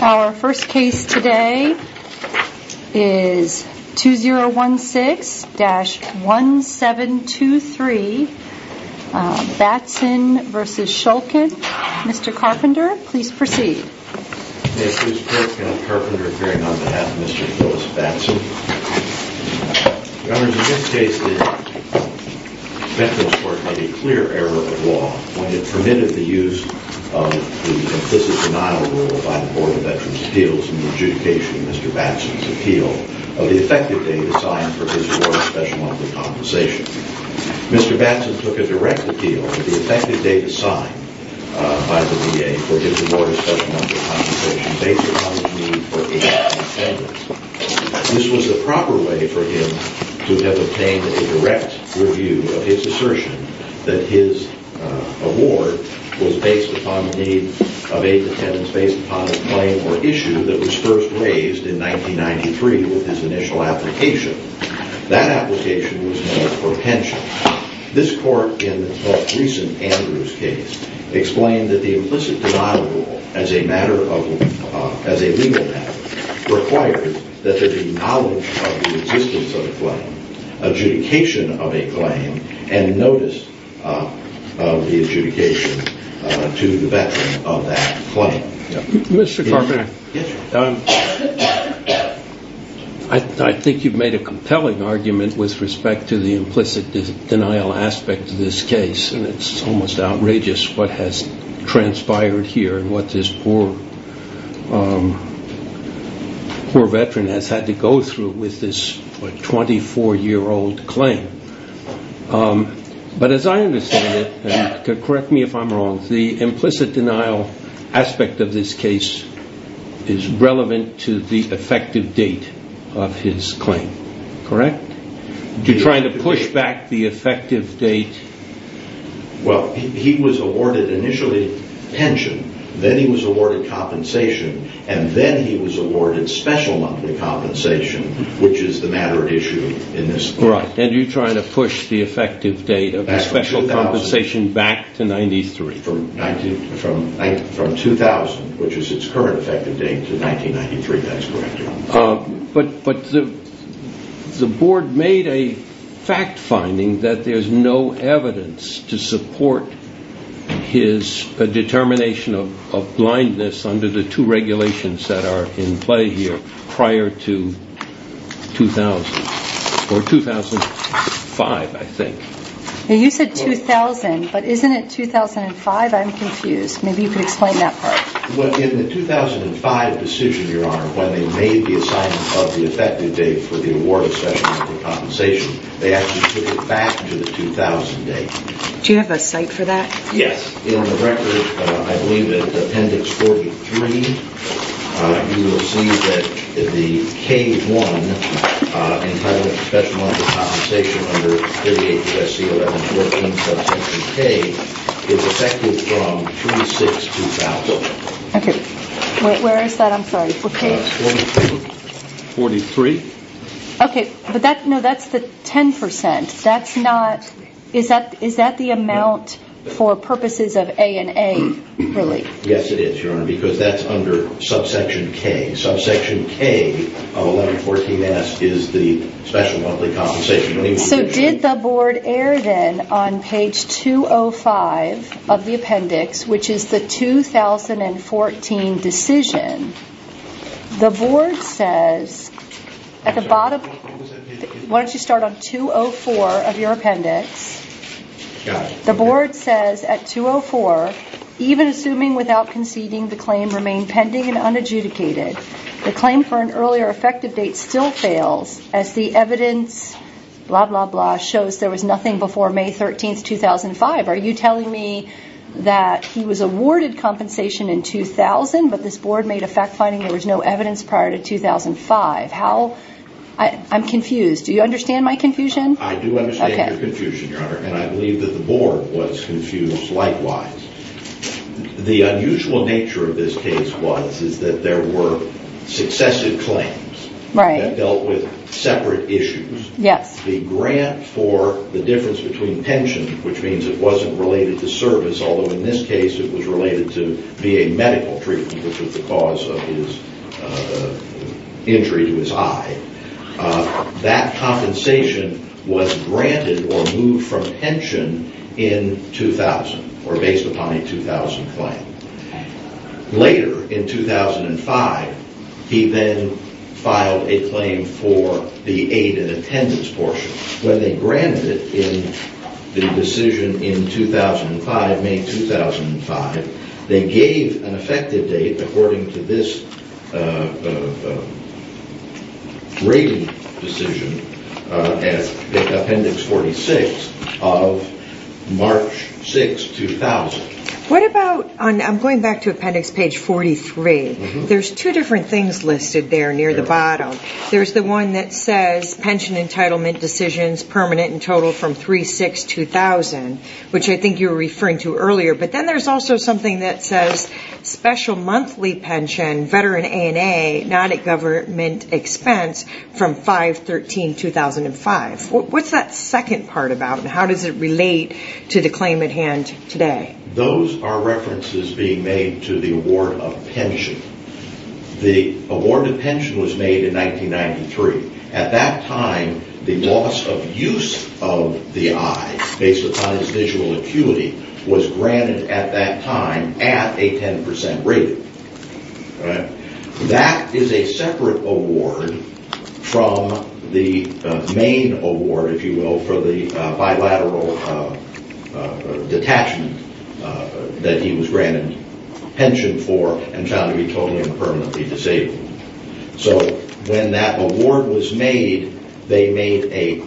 Our first case today is 2016-1723 Batson v. Shulkin. Mr. Carpenter, please proceed. May it please the court, Kenneth Carpenter appearing on behalf of Mr. Phyllis Batson. Your Honor, in this case the Veterans Court made a clear error of law when it permitted the use of the implicit denial rule by the Board of Veterans' Appeals in adjudication of Mr. Batson's appeal of the effective date assigned for his award of special monthly compensation. Mr. Batson took a direct appeal of the effective date assigned by the VA for his award of special monthly compensation based upon his need for aid to attendants. This was the proper way for him to have obtained a direct review of his assertion that his award was based upon the need of aid to attendants based upon a claim or issue that was first raised in 1993 with his initial application. That application was made for pension. This court in the most recent Andrews case explained that the implicit denial rule as a legal matter requires that there be knowledge of the existence of a claim, adjudication of a claim, and notice of the adjudication to the veteran of that claim. Mr. Carpenter, I think you've made a compelling argument with respect to the implicit denial aspect of this case, and it's almost outrageous what has transpired here and what this poor veteran has had to go through with this 24-year-old claim. But as I understand it, and correct me if I'm wrong, the implicit denial aspect of this case is relevant to the effective date of his claim, correct? You're trying to push back the effective date? Well, he was awarded initially pension, then he was awarded compensation, and then he was awarded special monthly compensation, which is the matter at issue in this case. Right. And you're trying to push the effective date of the special compensation back to 1993. From 2000, which is its current effective date, to 1993, that's correct. But the board made a fact-finding that there's no evidence to support his determination of blindness under the two regulations that are in play here prior to 2000, or 2005, I think. You said 2000, but isn't it 2005? I'm confused. Maybe you could explain that part. Well, in the 2005 decision, Your Honor, when they made the assignment of the effective date for the award of special monthly compensation, they actually took it back to the 2000 date. Do you have a cite for that? Yes. In the record, I believe it's Appendix 43, you will see that the K-1 entitlement for special monthly compensation under 38 U.S.C. 1114, subsection K, is effective from 2006 to 2000. Okay. Where is that? I'm sorry. 43. Okay. But that's the 10%. Is that the amount for purposes of A and A, really? Yes, it is, Your Honor, because that's under subsection K. And subsection K of 1114-S is the special monthly compensation. So did the Board err, then, on page 205 of the appendix, which is the 2014 decision, the Board says at the bottom, why don't you start on 204 of your appendix, the Board says at 204, even assuming without conceding the claim remained pending and unadjudicated, the claim for an earlier effective date still fails, as the evidence, blah, blah, blah, shows there was nothing before May 13, 2005. Are you telling me that he was awarded compensation in 2000, but this Board made a fact-finding there was no evidence prior to 2005? I'm confused. Do you understand my confusion? I do understand your confusion, Your Honor, and I believe that the Board was confused likewise. The unusual nature of this case was that there were successive claims that dealt with separate issues. The grant for the difference between pension, which means it wasn't related to service, although in this case it was related to VA medical treatment, which was the cause of his injury to his eye, that compensation was granted or moved from pension in 2000, or based upon a 2000 claim. Later, in 2005, he then filed a claim for the aid and attendance portion. When they granted it in the decision in 2005, May 2005, they gave an effective date according to this rating decision as Appendix 46 of March 6, 2000. I'm going back to Appendix page 43. There's two different things listed there near the bottom. There's the one that says pension entitlement decisions permanent in total from 3-6-2000, which I think you were referring to earlier, but then there's also something that says special monthly pension, veteran A&A, not at government expense from 5-13-2005. What's that second part about, and how does it relate to the claim at hand today? Those are references being made to the award of pension. The award of pension was made in 1993. At that time, the loss of use of the eye, based upon his visual acuity, was granted at that time at a 10% rating. That is a separate award from the main award, if you will, for the bilateral detachment that he was granted pension for and found to be totally and permanently disabled. When that award was made, they made a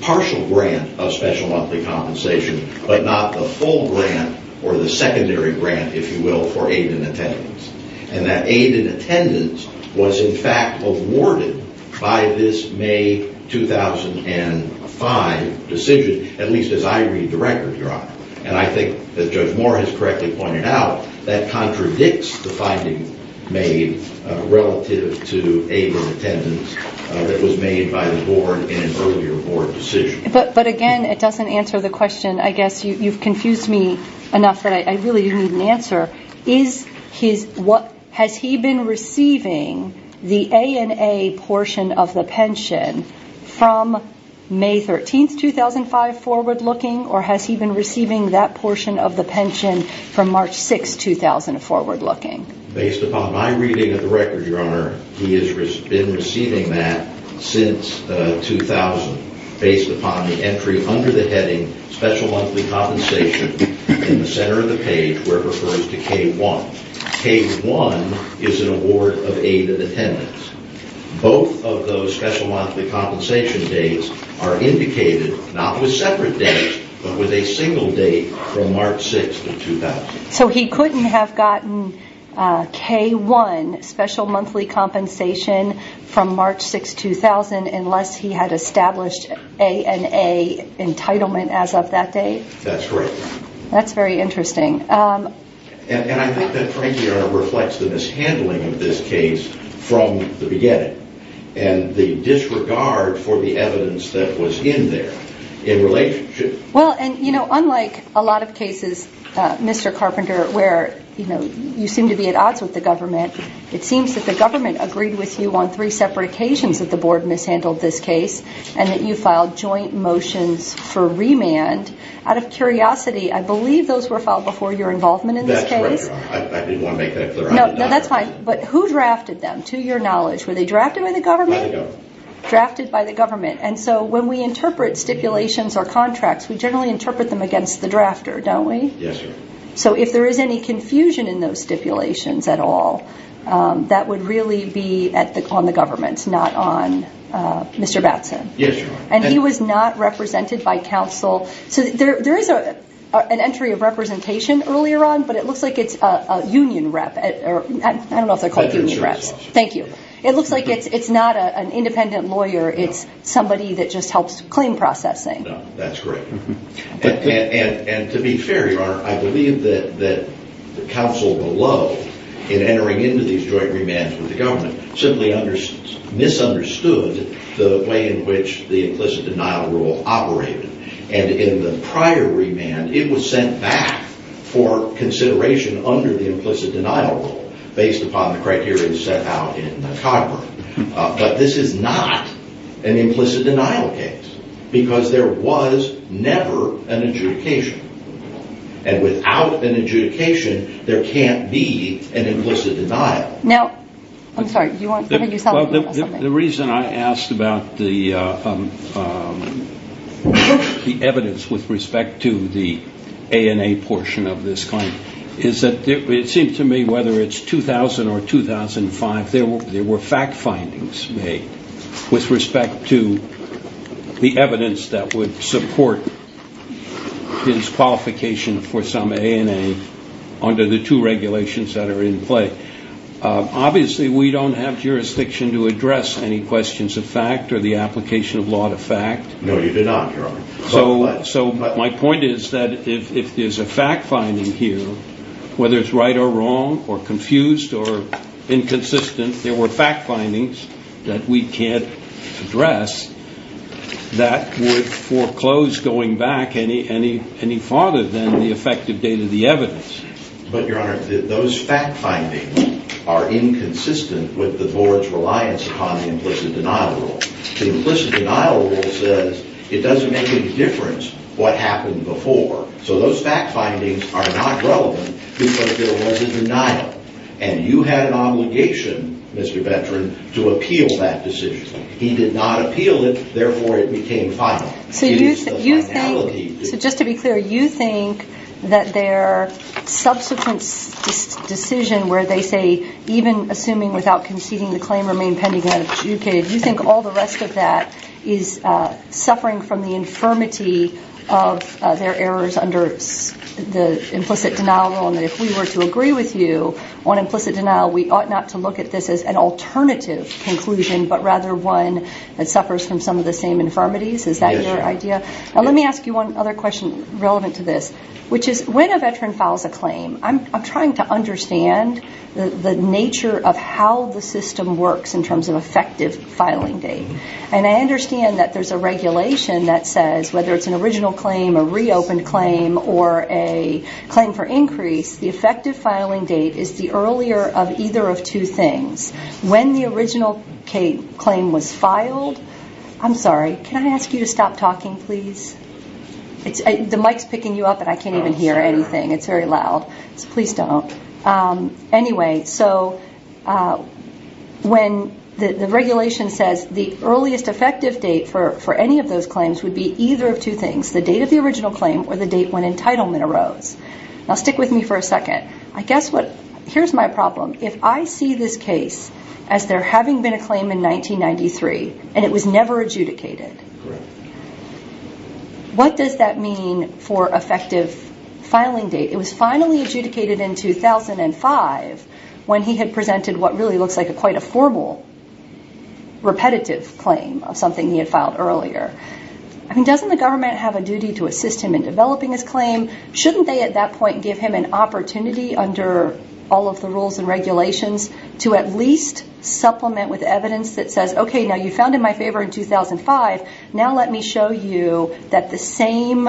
partial grant of special monthly compensation, but not the full grant or the secondary grant, if you will, for aid in attendance. That aid in attendance was in fact awarded by this May 2005 decision, at least as I read the record, Your Honor, and I think that Judge Moore has correctly pointed out that contradicts the finding made relative to aid in attendance that was made by the board in an earlier board decision. But again, it doesn't answer the question. I guess you've confused me enough that I really need an answer. Has he been receiving the A&A portion of the pension from May 13, 2005, forward-looking, or has he been receiving that portion of the pension from March 6, 2000, forward-looking? Based upon my reading of the record, Your Honor, he has been receiving that since 2000, based upon the entry under the heading special monthly compensation in the center of the page where it refers to K-1. K-1 is an award of aid in attendance. Both of those special monthly compensation days are indicated not with separate dates, but with a single date from March 6, 2000. So he couldn't have gotten K-1, special monthly compensation, from March 6, 2000 unless he had established A&A entitlement as of that date? That's correct. That's very interesting. And I think that frankly, Your Honor, reflects the mishandling of this case from the beginning and the disregard for the evidence that was in there in relationship. Well, and unlike a lot of cases, Mr. Carpenter, where you seem to be at odds with the government, it seems that the government agreed with you on three separate occasions that the board mishandled this case and that you filed joint motions for remand. Out of curiosity, I believe those were filed before your involvement in this case? That's right, Your Honor. I didn't want to make that clear. No, that's fine. But who drafted them, to your knowledge? Were they drafted by the government? By the government. Drafted by the government. And so when we interpret stipulations or contracts, we generally interpret them against the drafter, don't we? Yes, Your Honor. So if there is any confusion in those stipulations at all, that would really be on the government, not on Mr. Batson. Yes, Your Honor. And he was not represented by counsel. So there is an entry of representation earlier on, but it looks like it's a union rep. I don't know if they're called union reps. Thank you. It looks like it's not an independent lawyer. It's somebody that just helps claim processing. No, that's correct. And to be fair, Your Honor, I believe that the counsel below, in entering into these joint remands with the government, simply misunderstood the way in which the implicit denial rule operated. And in the prior remand, it was sent back for consideration under the implicit denial rule, based upon the criteria set out in the Cogburn. But this is not an implicit denial case, because there was never an adjudication. And without an adjudication, there can't be an implicit denial. Now, I'm sorry. The reason I asked about the evidence with respect to the ANA portion of this claim is that it seems to me, whether it's 2000 or 2005, there were fact findings made with respect to the evidence that would support his qualification for some ANA under the two regulations that are in play. Obviously, we don't have jurisdiction to address any questions of fact or the application of law to fact. No, you do not, Your Honor. So my point is that if there's a fact finding here, whether it's right or wrong or confused or inconsistent, there were fact findings that we can't address that would foreclose going back any farther than the effective date of the evidence. But, Your Honor, those fact findings are inconsistent with the board's reliance upon the implicit denial rule. The implicit denial rule says it doesn't make any difference what happened before. So those fact findings are not relevant because there was a denial. And you had an obligation, Mr. Ventren, to appeal that decision. He did not appeal it. Therefore, it became final. So just to be clear, you think that their subsequent decision where they say, even assuming without conceding the claim remained pending and adjudicated, you think all the rest of that is suffering from the infirmity of their errors under the implicit denial rule and that if we were to agree with you on implicit denial, we ought not to look at this as an alternative conclusion but rather one that suffers from some of the same infirmities? Is that your idea? Now, let me ask you one other question relevant to this, which is when a veteran files a claim, I'm trying to understand the nature of how the system works in terms of effective filing date. And I understand that there's a regulation that says whether it's an original claim, a reopened claim, or a claim for increase, the effective filing date is the earlier of either of two things. When the original claim was filed, I'm sorry, can I ask you to stop talking, please? The mic's picking you up and I can't even hear anything. It's very loud. So please don't. Anyway, so when the regulation says the earliest effective date for any of those claims would be either of two things, it's the date of the original claim or the date when entitlement arose. Now stick with me for a second. Here's my problem. If I see this case as there having been a claim in 1993 and it was never adjudicated, what does that mean for effective filing date? It was finally adjudicated in 2005 when he had presented what really looks like quite a formal repetitive claim, something he had filed earlier. I mean, doesn't the government have a duty to assist him in developing his claim? Shouldn't they at that point give him an opportunity under all of the rules and regulations to at least supplement with evidence that says, okay, now you found in my favor in 2005, now let me show you that the same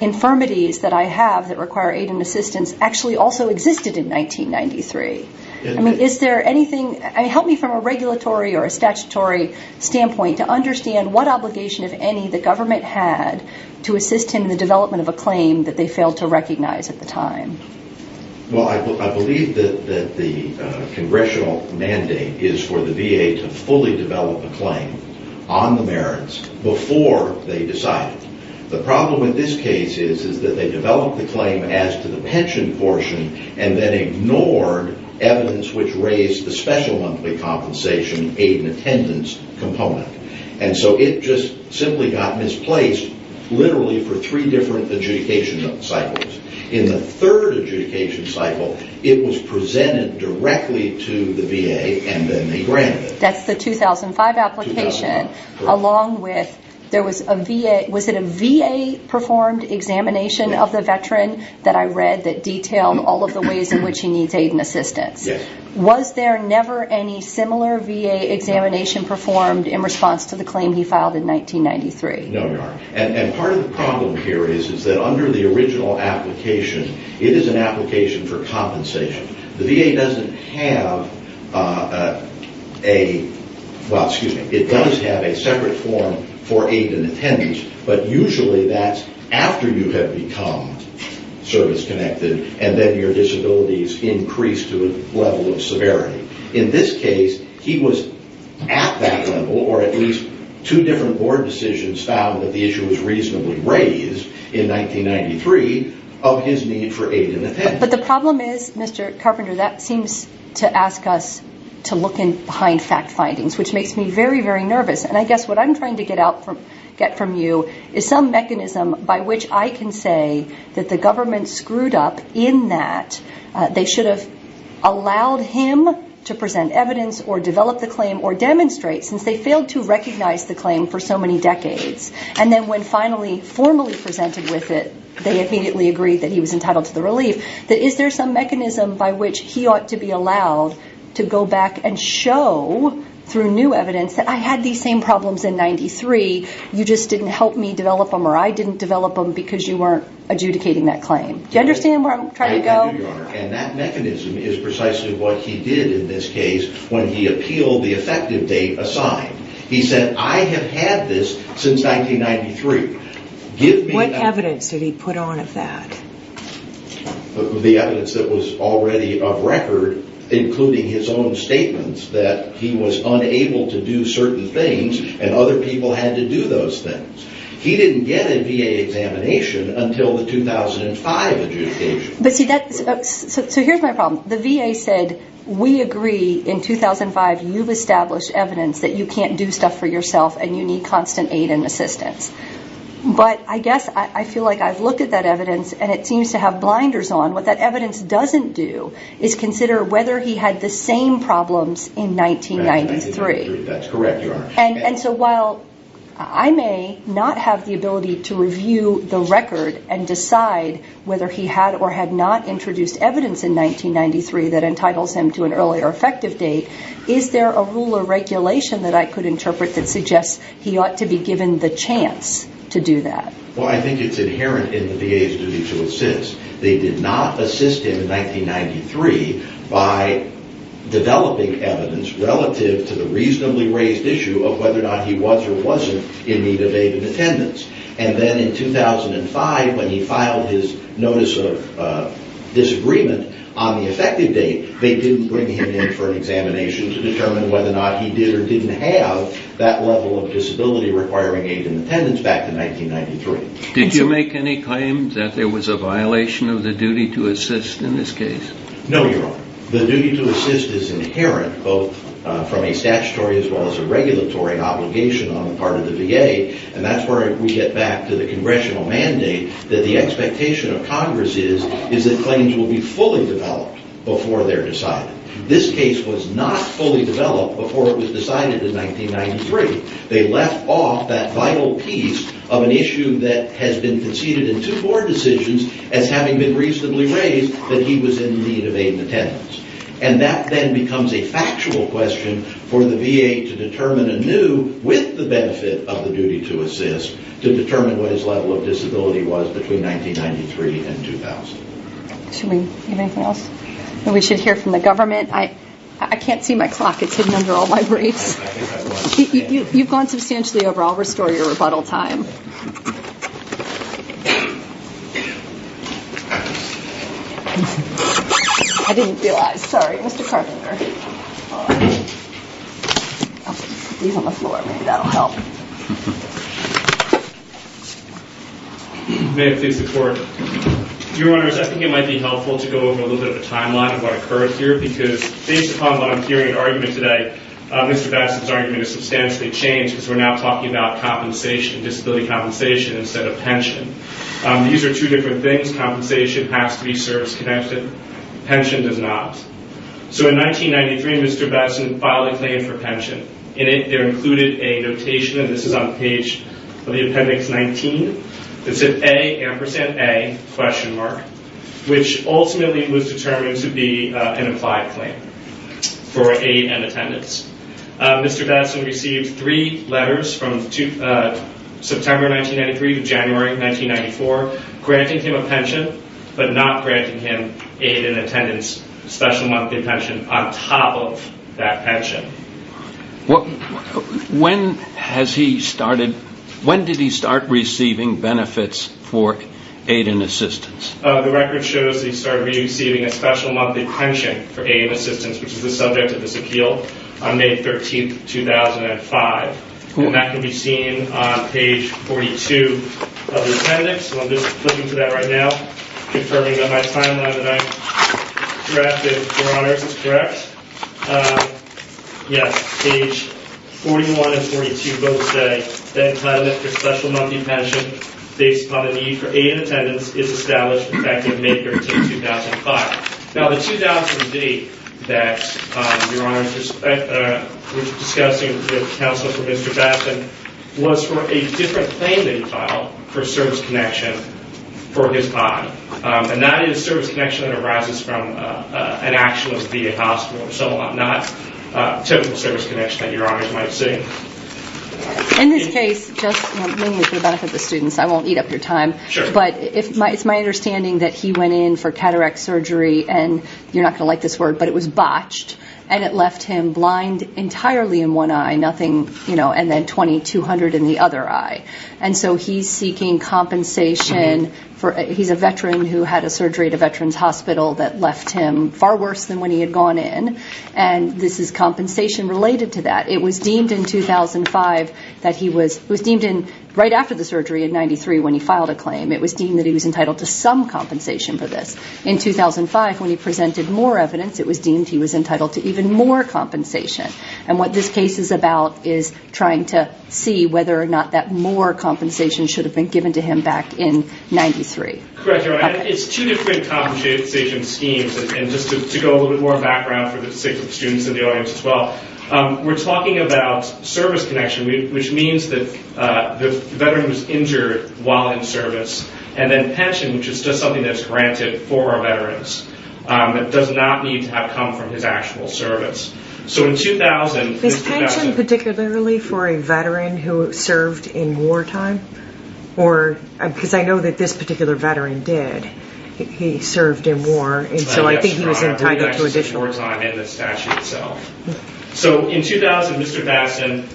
infirmities that I have that require aid and assistance actually also existed in 1993? I mean, help me from a regulatory or a statutory standpoint to understand what obligation, if any, the government had to assist him in the development of a claim that they failed to recognize at the time. Well, I believe that the congressional mandate is for the VA to fully develop a claim on the merits before they decide it. The problem with this case is that they developed the claim as to the pension portion and then ignored evidence which raised the special monthly compensation aid and attendance component. And so it just simply got misplaced literally for three different adjudication cycles. In the third adjudication cycle, it was presented directly to the VA and then they granted it. That's the 2005 application along with there was a VA, was it a VA-performed examination of the veteran that I read that detailed all of the ways in which he needs aid and assistance? Yes. Was there never any similar VA examination performed in response to the claim he filed in 1993? No, there aren't. And part of the problem here is that under the original application, it is an application for compensation. The VA doesn't have a, well, excuse me, it does have a separate form for aid and attendance, but usually that's after you have become service-connected and then your disabilities increase to a level of severity. In this case, he was at that level or at least two different board decisions found that the issue was reasonably raised in 1993 of his need for aid and attendance. But the problem is, Mr. Carpenter, that seems to ask us to look behind fact findings, which makes me very, very nervous. And I guess what I'm trying to get from you is some mechanism by which I can say that the government screwed up in that they should have allowed him to present evidence or develop the claim or demonstrate since they failed to recognize the claim for so many decades. And then when finally formally presented with it, they immediately agreed that he was entitled to the relief, that is there some mechanism by which he ought to be allowed to go back and show through new evidence that I had these same problems in 93, you just didn't help me develop them or I didn't develop them because you weren't adjudicating that claim. Do you understand where I'm trying to go? I do, Your Honor, and that mechanism is precisely what he did in this case when he appealed the effective date assigned. He said, I have had this since 1993. What evidence did he put on of that? The evidence that was already of record, including his own statements that he was unable to do certain things and other people had to do those things. He didn't get a VA examination until the 2005 adjudication. So here's my problem. The VA said, we agree in 2005 you've established evidence that you can't do stuff for yourself and you need constant aid and assistance. But I guess I feel like I've looked at that evidence and it seems to have blinders on. What that evidence doesn't do is consider whether he had the same problems in 1993. That's correct, Your Honor. And so while I may not have the ability to review the record and decide whether he had or had not introduced evidence in 1993 that entitles him to an earlier effective date, is there a rule or regulation that I could interpret that suggests he ought to be given the chance to do that? Well, I think it's inherent in the VA's duty to assist. They did not assist him in 1993 by developing evidence relative to the reasonably raised issue of whether or not he was or wasn't in need of aid and attendance. And then in 2005, when he filed his notice of disagreement on the effective date, they didn't bring him in for an examination to determine whether or not he did or didn't have that level of disability requiring aid and attendance back in 1993. Did you make any claims that there was a violation of the duty to assist in this case? No, Your Honor. The duty to assist is inherent both from a statutory as well as a regulatory obligation on the part of the VA. And that's where we get back to the congressional mandate that the expectation of Congress is is that claims will be fully developed before they're decided. This case was not fully developed before it was decided in 1993. They left off that vital piece of an issue that has been conceded in two board decisions as having been reasonably raised that he was in need of aid and attendance. And that then becomes a factual question for the VA to determine anew, with the benefit of the duty to assist, to determine what his level of disability was between 1993 and 2000. Should we hear anything else? We should hear from the government. I can't see my clock. It's hidden under all my briefs. You've gone substantially over. I'll restore your rebuttal time. I didn't realize. Sorry, Mr. Carpenter. May it please the Court. Your Honors, I think it might be helpful to go over a little bit of a timeline of what occurred here because based upon what I'm hearing in argument today, Mr. Besson's argument is substantially changed because we're now talking about disability compensation instead of pension. These are two different things. Compensation has to be service-connected. Pension does not. So in 1993, Mr. Besson filed a claim for pension. In it, there included a notation, and this is on the page of the appendix 19, it said A, ampersand A, question mark, which ultimately was determined to be an implied claim for aid and attendance. Mr. Besson received three letters from September 1993 to January 1994 granting him a pension, but not granting him aid and attendance, special monthly pension on top of that pension. When did he start receiving benefits for aid and assistance? The record shows he started receiving a special monthly pension for aid and assistance, which is the subject of this appeal, on May 13, 2005. And that can be seen on page 42 of the appendix, so I'm just flipping through that right now, confirming that my timeline that I drafted, Your Honors, is correct. Yes, page 41 and 42 both say that the entitlement for special monthly pension based upon the need for aid and attendance is established effective May 13, 2005. Now the 2000 deed that, Your Honors, we're discussing with counsel for Mr. Besson was for a different claim that he filed for service connection for his body, and that is service connection that arises from an actual VA hospital, so not typical service connection that Your Honors might see. In this case, just mainly for the benefit of the students, I won't eat up your time, but it's my understanding that he went in for cataract surgery, and you're not going to like this word, but it was botched, and it left him blind entirely in one eye, nothing, and then 2,200 in the other eye. And so he's seeking compensation for he's a veteran who had a surgery at a veteran's hospital that left him far worse than when he had gone in, and this is compensation related to that. It was deemed in 2005 that he was, it was deemed right after the surgery in 93 when he filed a claim, it was deemed that he was entitled to some compensation for this. In 2005, when he presented more evidence, it was deemed he was entitled to even more compensation, and what this case is about is trying to see whether or not that more compensation should have been given to him back in 93. Correct, Your Honor. It's two different compensation schemes, and just to go a little bit more background for the sake of the students and the audience as well, we're talking about service connection, which means that the veteran was injured while in service, and then pension, which is just something that's granted for veterans, does not need to have come from his actual service. Is pension particularly for a veteran who served in wartime? Or, because I know that this particular veteran did. He served in war, and so I think he was entitled to additional. War time and the statute itself. So in 2000, Mr. Batson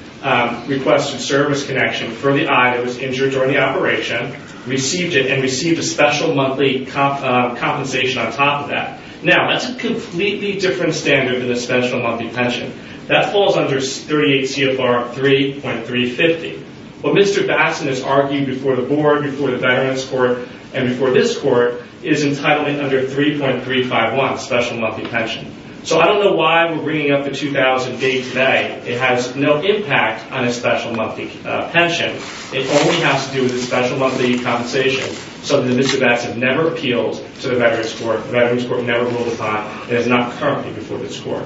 requested service connection for the eye that was injured during the operation, received it, and received a special monthly compensation on top of that. Now, that's a completely different standard than a special monthly pension. That falls under 38 CFR 3.350. What Mr. Batson has argued before the board, before the veterans court, and before this court, is entitlement under 3.351, special monthly pension. So I don't know why we're bringing up the 2000 day-to-day. It has no impact on a special monthly pension. It only has to do with a special monthly compensation so that Mr. Batson never appeals to the veterans court. It would never go to file. It is not currently before this court.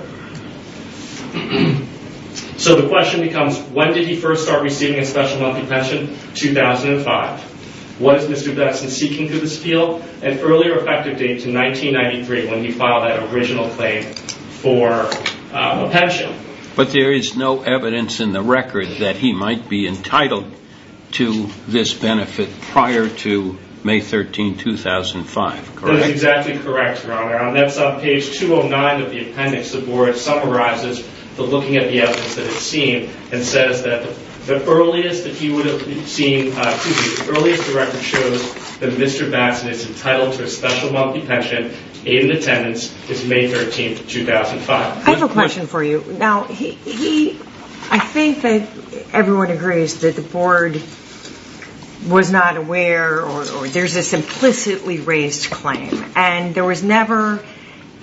So the question becomes, when did he first start receiving a special monthly pension? 2005. What is Mr. Batson seeking to this appeal? An earlier effective date to 1993 when he filed that original claim for a pension. But there is no evidence in the record that he might be entitled to this benefit prior to May 13, 2005, correct? That is exactly correct, Your Honor. And that's on page 209 of the appendix. The board summarizes looking at the evidence that it's seen and says that the earliest that he would have seen to be, the earliest the record shows that Mr. Batson is entitled to a special monthly pension, aid in attendance, is May 13, 2005. I have a question for you. I think that everyone agrees that the board was not aware or there's this implicitly raised claim. And there was never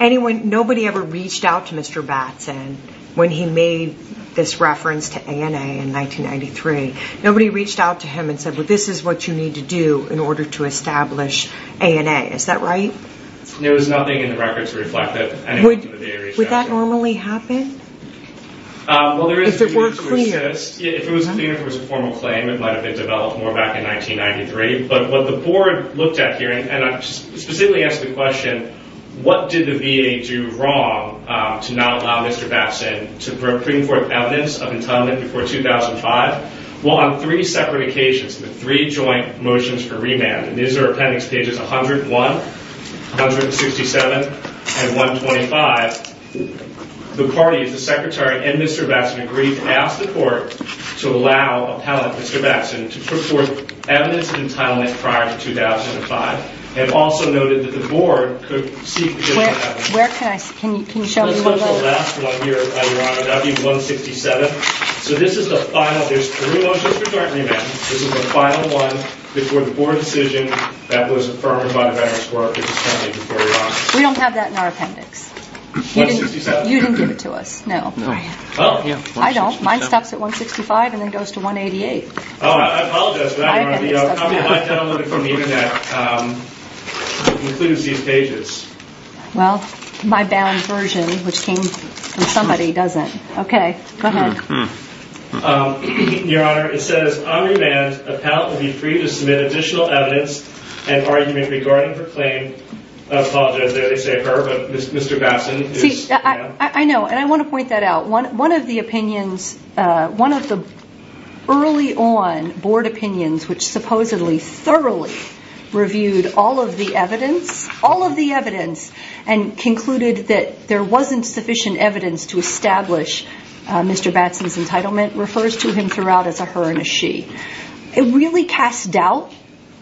anyone, nobody ever reached out to Mr. Batson when he made this reference to ANA in 1993. Nobody reached out to him and said, well, this is what you need to do in order to establish ANA. Is that right? There was nothing in the record to reflect that. Would that normally happen? Well, there is a need to assist. If it was a formal claim, it might have been developed more back in 1993. But what the board looked at here, and I specifically ask the question, what did the VA do wrong to not allow Mr. Batson to bring forth evidence of entitlement before 2005? Well, on three separate occasions, the three joint motions for remand, and these are appendix pages 101, 167, and 125, the parties, the secretary and Mr. Batson, agreed to ask the court to allow appellate Mr. Batson to put forth evidence of entitlement prior to 2005 and also noted that the board could seek to do that. Where can I see? Can you show me? Let's look at the last one here, Your Honor, W167. So this is the final. There's three motions for joint remand. This is the final one before the board decision that was affirmed by the Veterans Corps. We don't have that in our appendix. You didn't give it to us. No. I don't. Mine stops at 165 and then goes to 188. Oh, I apologize for that, Your Honor. I downloaded it from the Internet. It includes these pages. Well, my bound version, which came from somebody, doesn't. Okay, go ahead. Your Honor, it says on remand, appellate will be free to submit additional evidence and argument regarding her claim. I apologize that I say her, but Mr. Batson. See, I know, and I want to point that out. One of the opinions, one of the early on board opinions, which supposedly thoroughly reviewed all of the evidence, and concluded that there wasn't sufficient evidence to establish Mr. Batson's entitlement, refers to him throughout as a her and a she. It really casts doubt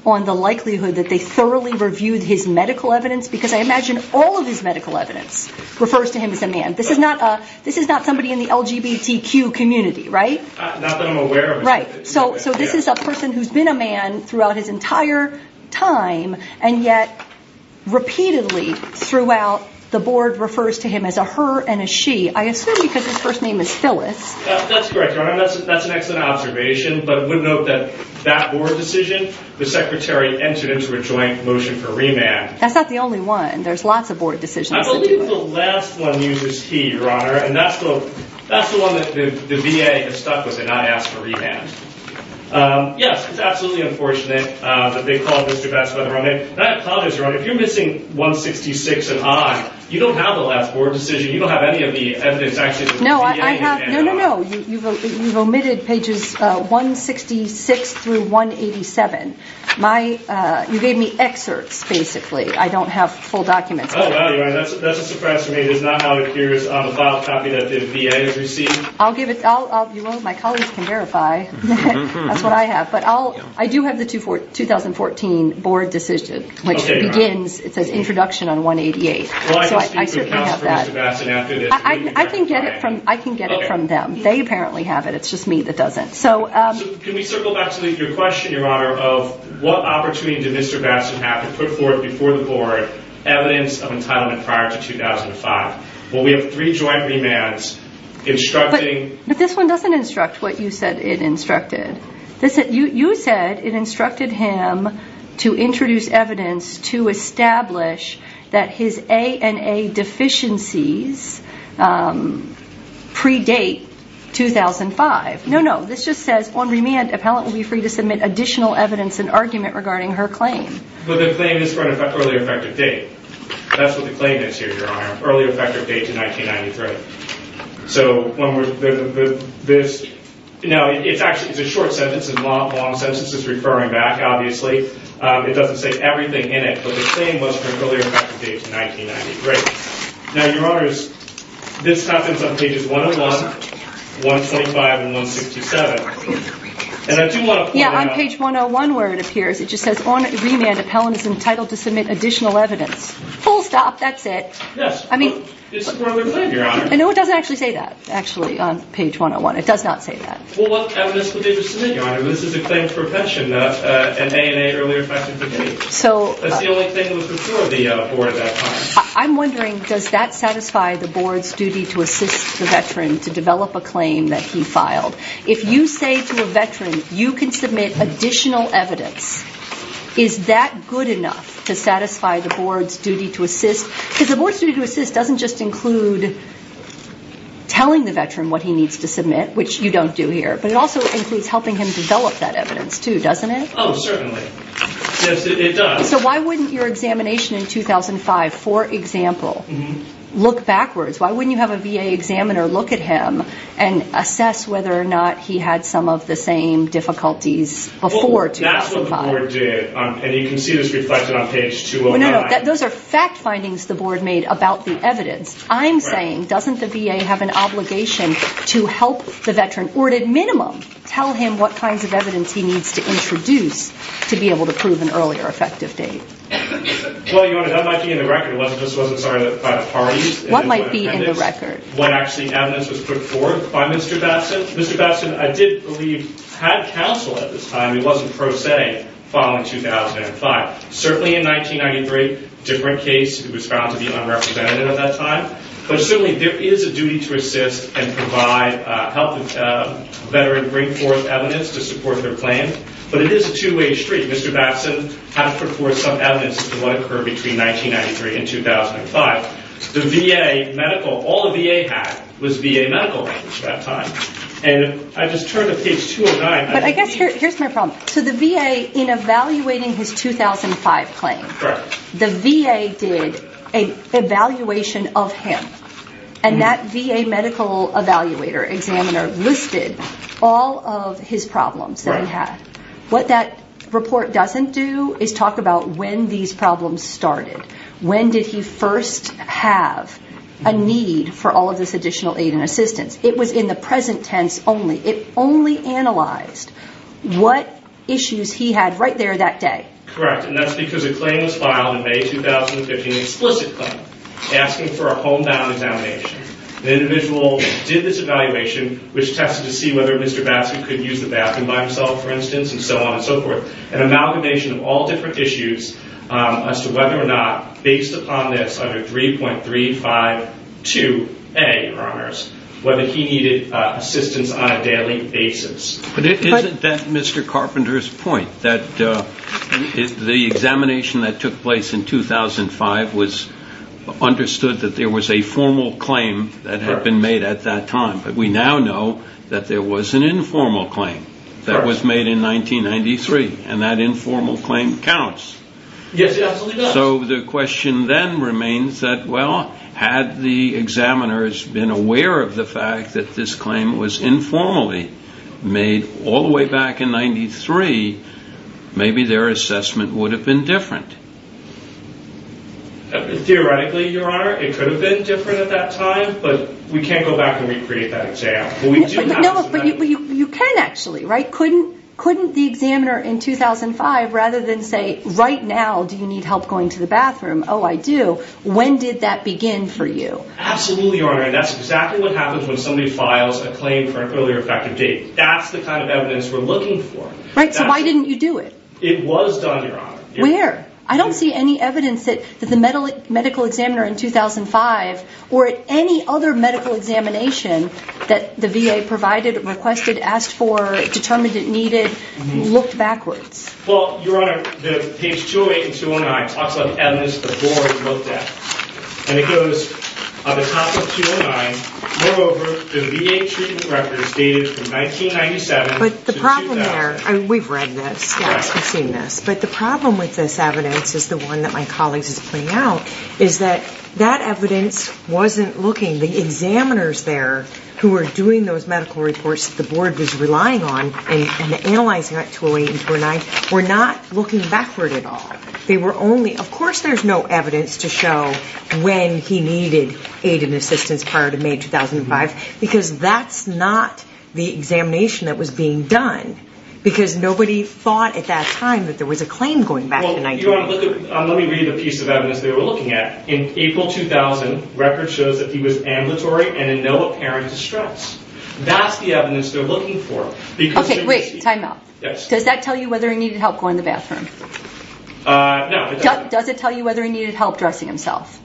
on the likelihood that they thoroughly reviewed his medical evidence, because I imagine all of his medical evidence refers to him as a man. This is not somebody in the LGBTQ community, right? Not that I'm aware of. Right, so this is a person who's been a man throughout his entire time, and yet repeatedly throughout, the board refers to him as a her and a she. I assume because his first name is Phyllis. That's correct, Your Honor. That's an excellent observation, but it would note that that board decision, the secretary entered into a joint motion for remand. That's not the only one. There's lots of board decisions. I believe the last one uses he, Your Honor, and that's the one that the VA has stuck with and not asked for remand. Yes, it's absolutely unfortunate that they called Mr. Batson by the wrong name. And I apologize, Your Honor. If you're missing 166 and on, you don't have the last board decision. You don't have any of the evidence, actually, that the VA has handed on. No, no, no. You've omitted pages 166 through 187. You gave me excerpts, basically. I don't have full documents. Oh, well, Your Honor, that's a surprise to me. It is not how it appears on the file copy that the VA has received. I'll give it to you. Well, my colleagues can verify. That's what I have. But I do have the 2014 board decision, which begins, it says, introduction on 188. So I certainly have that. Well, I can speak to the House for Mr. Batson after this. I can get it from them. They apparently have it. It's just me that doesn't. So can we circle back to your question, Your Honor, of what opportunity did Mr. Batson have to put forth before the board evidence of entitlement prior to 2005? Well, we have three joint remands instructing. But this one doesn't instruct what you said it instructed. You said it instructed him to introduce evidence to establish that his ANA deficiencies predate 2005. No, no. This just says, on remand, appellant will be free to submit additional evidence and argument regarding her claim. But the claim is for an early effective date. That's what the claim is here, Your Honor. Early effective date to 1993. Now, it's a short sentence. It's a long sentence. It's referring back, obviously. It doesn't say everything in it. But the claim was for an early effective date to 1993. Now, Your Honors, this happens on pages 101, 125, and 167. And I do want to point out. Yeah, on page 101, where it appears, it just says, on remand, appellant is entitled to submit additional evidence. Full stop. That's it. Yes. I mean. It's another claim, Your Honor. No, it doesn't actually say that, actually, on page 101. It does not say that. Well, what evidence would they have submitted, Your Honor? This is a claim for a pension, an ANA earlier effective date. So. That's the only thing that was before the board at that time. I'm wondering, does that satisfy the board's duty to assist the veteran to develop a claim that he filed? If you say to a veteran, you can submit additional evidence, is that good enough to satisfy the board's duty to assist? Because the board's duty to assist doesn't just include telling the veteran what he needs to submit, which you don't do here. But it also includes helping him develop that evidence, too, doesn't it? Oh, certainly. Yes, it does. So why wouldn't your examination in 2005, for example, look backwards? Why wouldn't you have a VA examiner look at him and assess whether or not he had some of the same difficulties before 2005? That's what the board did, and you can see this reflected on page 209. No, no, those are fact findings the board made about the evidence. I'm saying, doesn't the VA have an obligation to help the veteran, or at a minimum, tell him what kinds of evidence he needs to introduce to be able to prove an earlier effective date? Well, Your Honor, that might be in the record. What might be in the record? What actually evidence was put forth by Mr. Babson. Mr. Babson, I did believe, had counsel at this time. It wasn't pro se following 2005. Certainly in 1993, a different case. He was found to be unrepresentative at that time. But certainly there is a duty to assist and help the veteran bring forth evidence to support their claim. But it is a two-way street. Mr. Babson had to put forth some evidence to what occurred between 1993 and 2005. The VA medical, all the VA had was VA medical records at that time. And I just turned to page 209. But I guess here's my problem. So the VA, in evaluating his 2005 claim, the VA did an evaluation of him. And that VA medical evaluator, examiner, listed all of his problems that he had. What that report doesn't do is talk about when these problems started. When did he first have a need for all of this additional aid and assistance? It was in the present tense only. It only analyzed what issues he had right there that day. Correct. And that's because a claim was filed in May 2015, an explicit claim, asking for a homebound examination. The individual did this evaluation, which tested to see whether Mr. Babson could use the bathroom by himself, for instance, and so on and so forth. An amalgamation of all different issues as to whether or not based upon this under 3.352A, Your Honors, whether he needed assistance on a daily basis. Isn't that Mr. Carpenter's point, that the examination that took place in 2005 understood that there was a formal claim that had been made at that time, but we now know that there was an informal claim that was made in 1993, and that informal claim counts. Yes, it absolutely does. So the question then remains that, well, had the examiners been aware of the fact that this claim was informally made all the way back in 1993, maybe their assessment would have been different. Theoretically, Your Honor, it could have been different at that time, but we can't go back and recreate that exam. But you can actually, right? Couldn't the examiner in 2005, rather than say, right now, do you need help going to the bathroom? Oh, I do. When did that begin for you? Absolutely, Your Honor, and that's exactly what happens when somebody files a claim for an earlier effective date. That's the kind of evidence we're looking for. Right, so why didn't you do it? It was done, Your Honor. Where? I don't see any evidence that the medical examiner in 2005 or at any other medical examination that the VA provided, requested, asked for, determined it needed, looked backwards. Well, Your Honor, the page 208 and 209 talks about evidence the board looked at, and it goes, on the top of 209, moreover, the VA treatment records dated from 1997 to 2000. But the problem there, and we've read this, yes, we've seen this, but the problem with this evidence is the one that my colleague is putting out, is that that evidence wasn't looking. The examiners there who were doing those medical reports that the board was relying on in analyzing 208 and 209 were not looking backward at all. They were only, of course there's no evidence to show when he needed aid and assistance prior to May 2005, because that's not the examination that was being done, because nobody thought at that time that there was a claim going back to 1905. Let me read the piece of evidence they were looking at. In April 2000, record shows that he was ambulatory and in no apparent distress. That's the evidence they're looking for. Okay, wait, time out. Does that tell you whether he needed help going to the bathroom? No. Does it tell you whether he needed help dressing himself?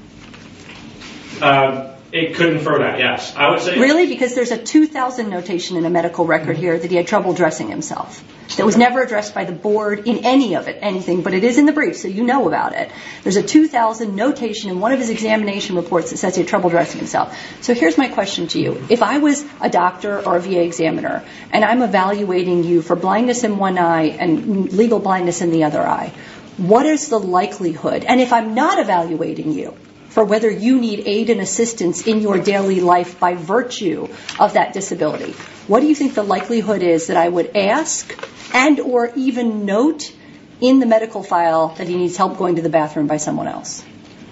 It could infer that, yes. Really? Because there's a 2000 notation in the medical record here that he had trouble dressing himself. It was never addressed by the board in any of it, anything, but it is in the brief so you know about it. There's a 2000 notation in one of his examination reports that says he had trouble dressing himself. So here's my question to you. If I was a doctor or a VA examiner and I'm evaluating you for blindness in one eye and legal blindness in the other eye, what is the likelihood, and if I'm not evaluating you, for whether you need aid and assistance in your daily life by virtue of that disability, what do you think the likelihood is that I would ask and or even note in the medical file that he needs help going to the bathroom by someone else?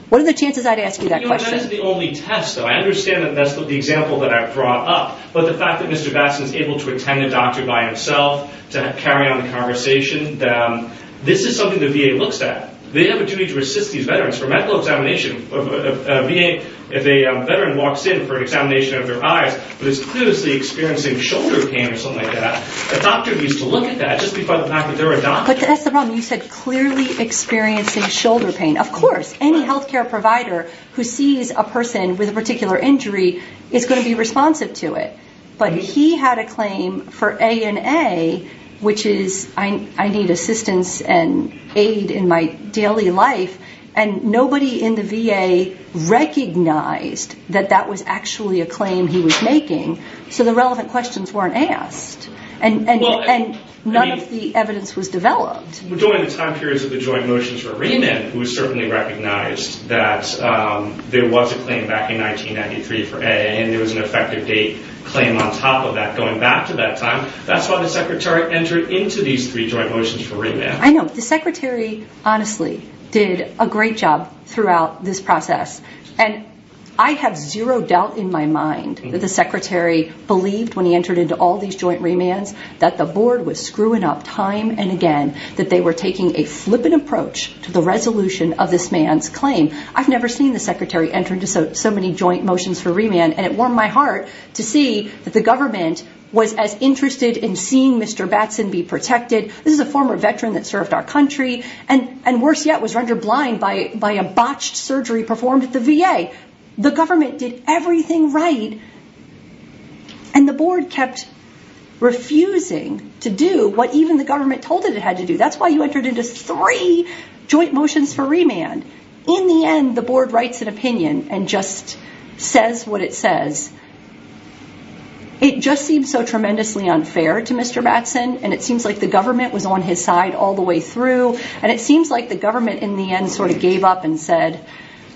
What are the chances I'd ask you that question? That is the only test, though. I understand that that's the example that I've brought up, but the fact that Mr. Batson is able to attend a doctor by himself to carry on the conversation, this is something the VA looks at. They have a duty to assist these veterans for medical examination. If a veteran walks in for an examination of their eyes, but is clearly experiencing shoulder pain or something like that, a doctor needs to look at that just because of the fact that they're a doctor. But that's the problem. You said clearly experiencing shoulder pain. Of course. Any health care provider who sees a person with a particular injury is going to be responsive to it. But he had a claim for A&A, which is I need assistance and aid in my daily life, and nobody in the VA recognized that that was actually a claim he was making, so the relevant questions weren't asked and none of the evidence was developed. During the time periods of the joint motions for remand, it was certainly recognized that there was a claim back in 1993 for A&A and there was an effective date claim on top of that going back to that time. That's why the Secretary entered into these three joint motions for remand. I know. The Secretary honestly did a great job throughout this process, and I have zero doubt in my mind that the Secretary believed when he entered into all these joint remands that the board was screwing up time and again, that they were taking a flippant approach to the resolution of this man's claim. I've never seen the Secretary enter into so many joint motions for remand, and it warmed my heart to see that the government was as interested in seeing Mr. Batson be protected. This is a former veteran that served our country and worse yet was rendered blind by a botched surgery performed at the VA. The government did everything right, and the board kept refusing to do what even the government told it it had to do. That's why you entered into three joint motions for remand. In the end, the board writes an opinion and just says what it says. It just seems so tremendously unfair to Mr. Batson, and it seems like the government was on his side all the way through, and it seems like the government in the end sort of gave up and said,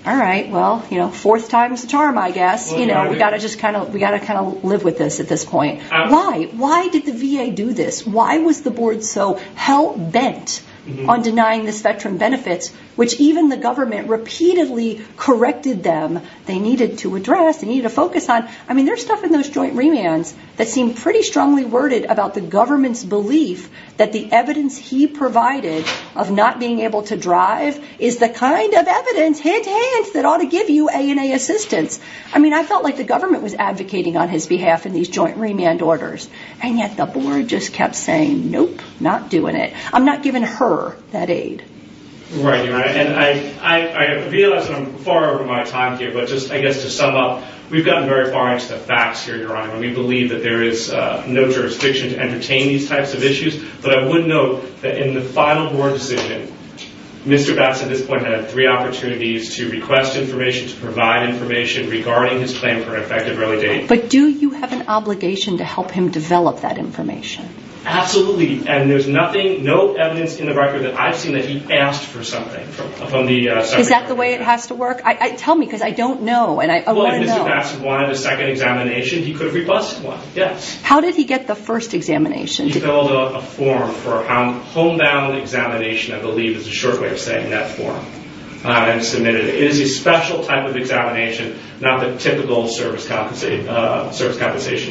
all right, well, fourth time's a charm, I guess. We've got to kind of live with this at this point. Why? Why did the VA do this? Why was the board so hell-bent on denying this veteran benefits, which even the government repeatedly corrected them they needed to address, they needed to focus on? I mean, there's stuff in those joint remands that seem pretty strongly worded about the government's belief that the evidence he provided of not being able to drive is the kind of evidence, hint, hint, that ought to give you A&A assistance. I mean, I felt like the government was advocating on his behalf in these joint remand orders, and yet the board just kept saying, nope, not doing it. I'm not giving her that aid. Right, and I realize that I'm far over my time here, but just, I guess, to sum up, we've gotten very far into the facts here, Your Honor, and we believe that there is no jurisdiction to entertain these types of issues. But I would note that in the final board decision, Mr. Batts at this point had three opportunities to request information, to provide information regarding his plan for an effective early date. But do you have an obligation to help him develop that information? Absolutely, and there's nothing, no evidence in the record that I've seen that he asked for something. Is that the way it has to work? Tell me, because I don't know, and I want to know. If Mr. Batts wanted a second examination, he could have requested one, yes. How did he get the first examination? He filled out a form for a homebound examination, I believe is the short way of saying that form, and submitted it. It is a special type of examination, not the typical service compensation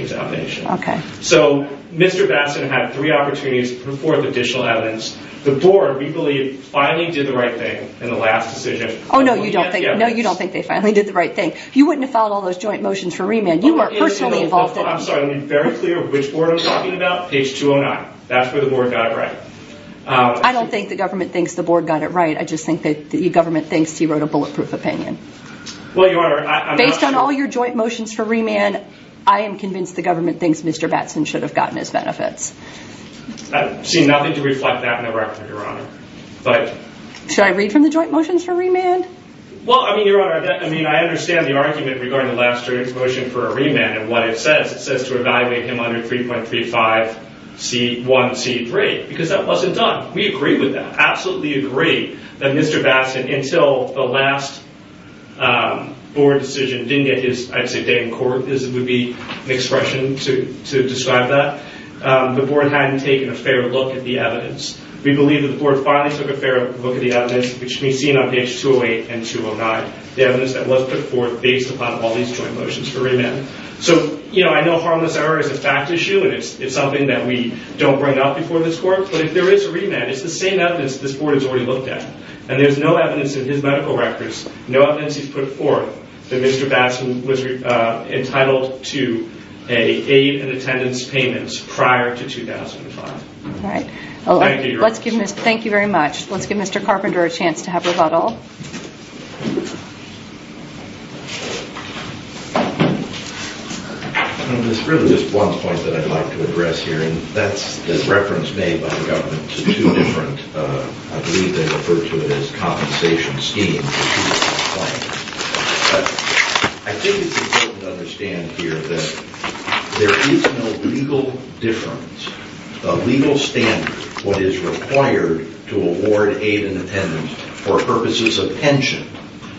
examination. Okay. So Mr. Batts had three opportunities to report the additional evidence. The board, we believe, finally did the right thing in the last decision. Oh, no, you don't think they finally did the right thing. You wouldn't have filed all those joint motions for remand. You were personally involved in it. I'm sorry, I'm very clear which board I'm talking about, page 209. That's where the board got it right. I don't think the government thinks the board got it right. I just think the government thinks he wrote a bulletproof opinion. Based on all your joint motions for remand, I am convinced the government thinks Mr. Batts should have gotten his benefits. I've seen nothing to reflect that in the record, Your Honor. Should I read from the joint motions for remand? Well, I mean, Your Honor, I understand the argument regarding the last joint motion for remand and what it says. It says to evaluate him under 3.35C1C3 because that wasn't done. We agree with that, absolutely agree that Mr. Batts, until the last board decision didn't get his, I'd say, day in court, would be an expression to describe that, the board hadn't taken a fair look at the evidence. We believe that the board finally took a fair look at the evidence, which can be seen on page 208 and 209, the evidence that was put forth based upon all these joint motions for remand. So, you know, I know harmless error is a fact issue and it's something that we don't bring up before this court, but if there is a remand, it's the same evidence this board has already looked at. And there's no evidence in his medical records, no evidence he's put forth, that Mr. Batts was entitled to an aid and attendance payment prior to 2005. All right. Thank you, Your Honor. Thank you very much. Let's give Mr. Carpenter a chance to have rebuttal. There's really just one point that I'd like to address here, and that's the reference made by the government to two different, I believe they refer to it as compensation schemes. I think it's important to understand here that there is no legal difference, the legal standard for what is required to award aid and attendance for purposes of pension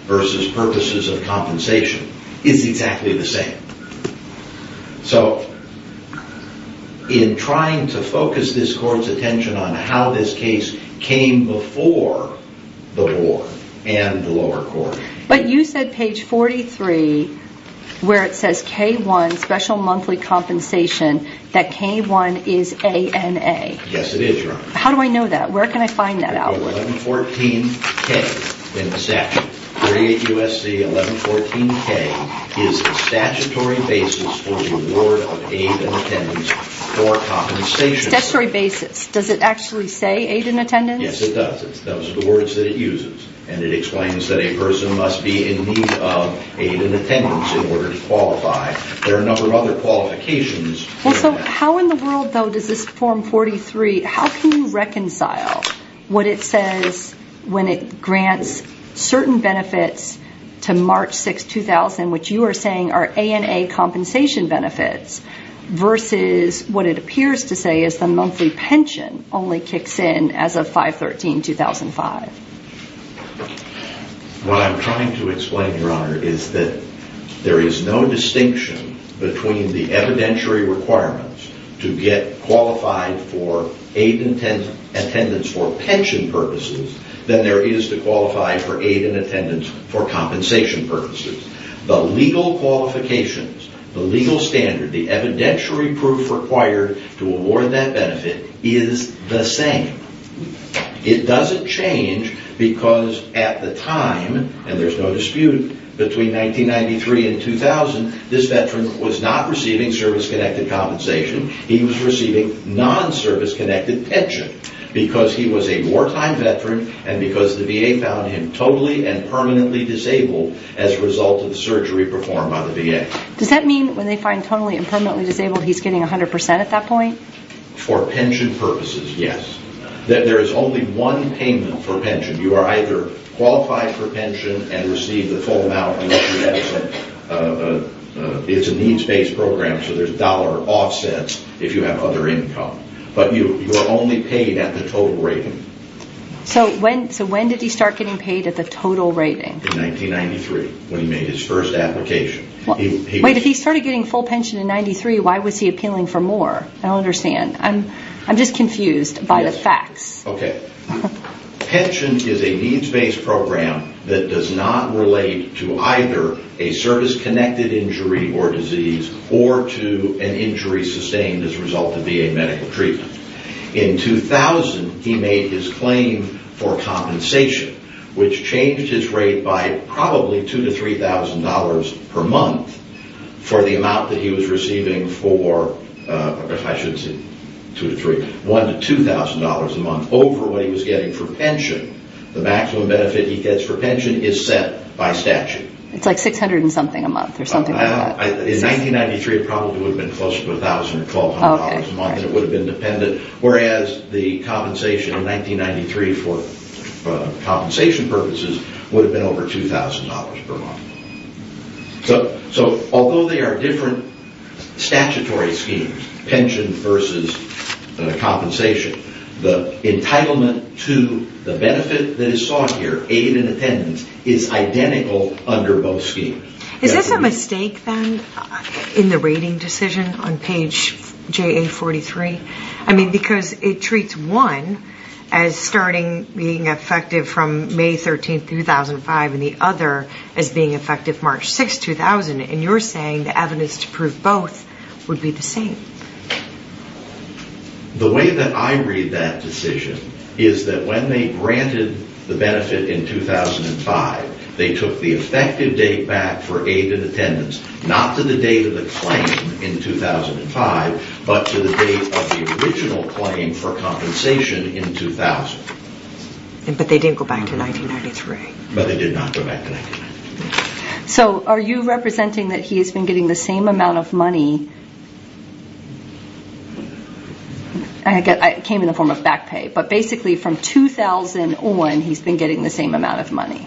versus purposes of compensation is exactly the same. So, in trying to focus this court's attention on how this case came before the board and the lower court. But you said page 43, where it says K-1, special monthly compensation, that K-1 is ANA. Yes, it is, Your Honor. How do I know that? Where can I find that out? 1114-K in the statute. 38 U.S.C. 1114-K is the statutory basis for the award of aid and attendance for compensation. Statutory basis. Does it actually say aid and attendance? Yes, it does. Those are the words that it uses. And it explains that a person must be in need of aid and attendance in order to qualify. There are a number of other qualifications. How in the world, though, does this form 43, how can you reconcile what it says when it grants certain benefits to March 6, 2000, which you are saying are ANA compensation benefits, versus what it appears to say is the monthly pension only kicks in as of 5-13-2005? What I'm trying to explain, Your Honor, is that there is no distinction between the evidentiary requirements to get qualified for aid and attendance for pension purposes than there is to qualify for aid and attendance for compensation purposes. The legal qualifications, the legal standard, the evidentiary proof required to award that benefit is the same. It doesn't change because at the time, and there's no dispute, between 1993 and 2000, this veteran was not receiving service-connected compensation. He was receiving non-service-connected pension because he was a wartime veteran and because the VA found him totally and permanently disabled as a result of the surgery performed by the VA. Does that mean when they find totally and permanently disabled, he's getting 100% at that point? For pension purposes, yes. There is only one payment for pension. You are either qualified for pension and receive the full amount. It's a needs-based program, so there's dollar offsets if you have other income. But you are only paid at the total rating. So when did he start getting paid at the total rating? In 1993, when he made his first application. Wait, if he started getting full pension in 93, why was he appealing for more? I don't understand. I'm just confused by the facts. Okay. Pension is a needs-based program that does not relate to either a service-connected injury or disease or to an injury sustained as a result of VA medical treatment. In 2000, he made his claim for compensation, which changed his rate by probably $2,000 to $3,000 per month for the amount that he was receiving for $1,000 to $2,000 a month over what he was getting for pension. The maximum benefit he gets for pension is set by statute. It's like $600 and something a month or something like that. In 1993, it probably would have been close to $1,000 or $1,200 a month, and it would have been dependent, whereas the compensation in 1993 for compensation purposes would have been over $2,000 per month. So although they are different statutory schemes, pension versus compensation, the entitlement to the benefit that is sought here, aid and attendance, is identical under both schemes. Is this a mistake, then, in the rating decision on page JA43? I mean, because it treats one as starting being effective from May 13, 2005, and the other as being effective March 6, 2000, and you're saying the evidence to prove both would be the same. The way that I read that decision is that when they granted the benefit in 2005, they took the effective date back for aid and attendance, not to the date of the claim in 2005, but to the date of the original claim for compensation in 2000. But they didn't go back to 1993. But they did not go back to 1993. So are you representing that he has been getting the same amount of money? It came in the form of back pay, but basically from 2001 he's been getting the same amount of money,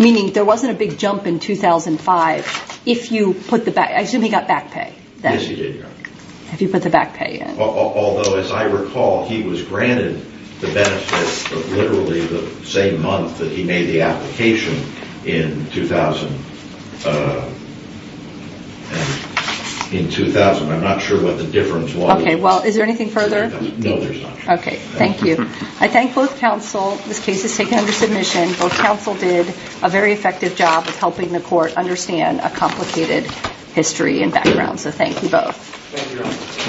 meaning there wasn't a big jump in 2005 if you put the back pay. I assume he got back pay then. Yes, he did. If you put the back pay in. Although, as I recall, he was granted the benefit of literally the same month that he made the application in 2000. I'm not sure what the difference was. Okay, well, is there anything further? No, there's not. Okay, thank you. I thank both counsel. This case is taken under submission. Both counsel did a very effective job of helping the court understand a complicated history and background. So thank you both. Thank you.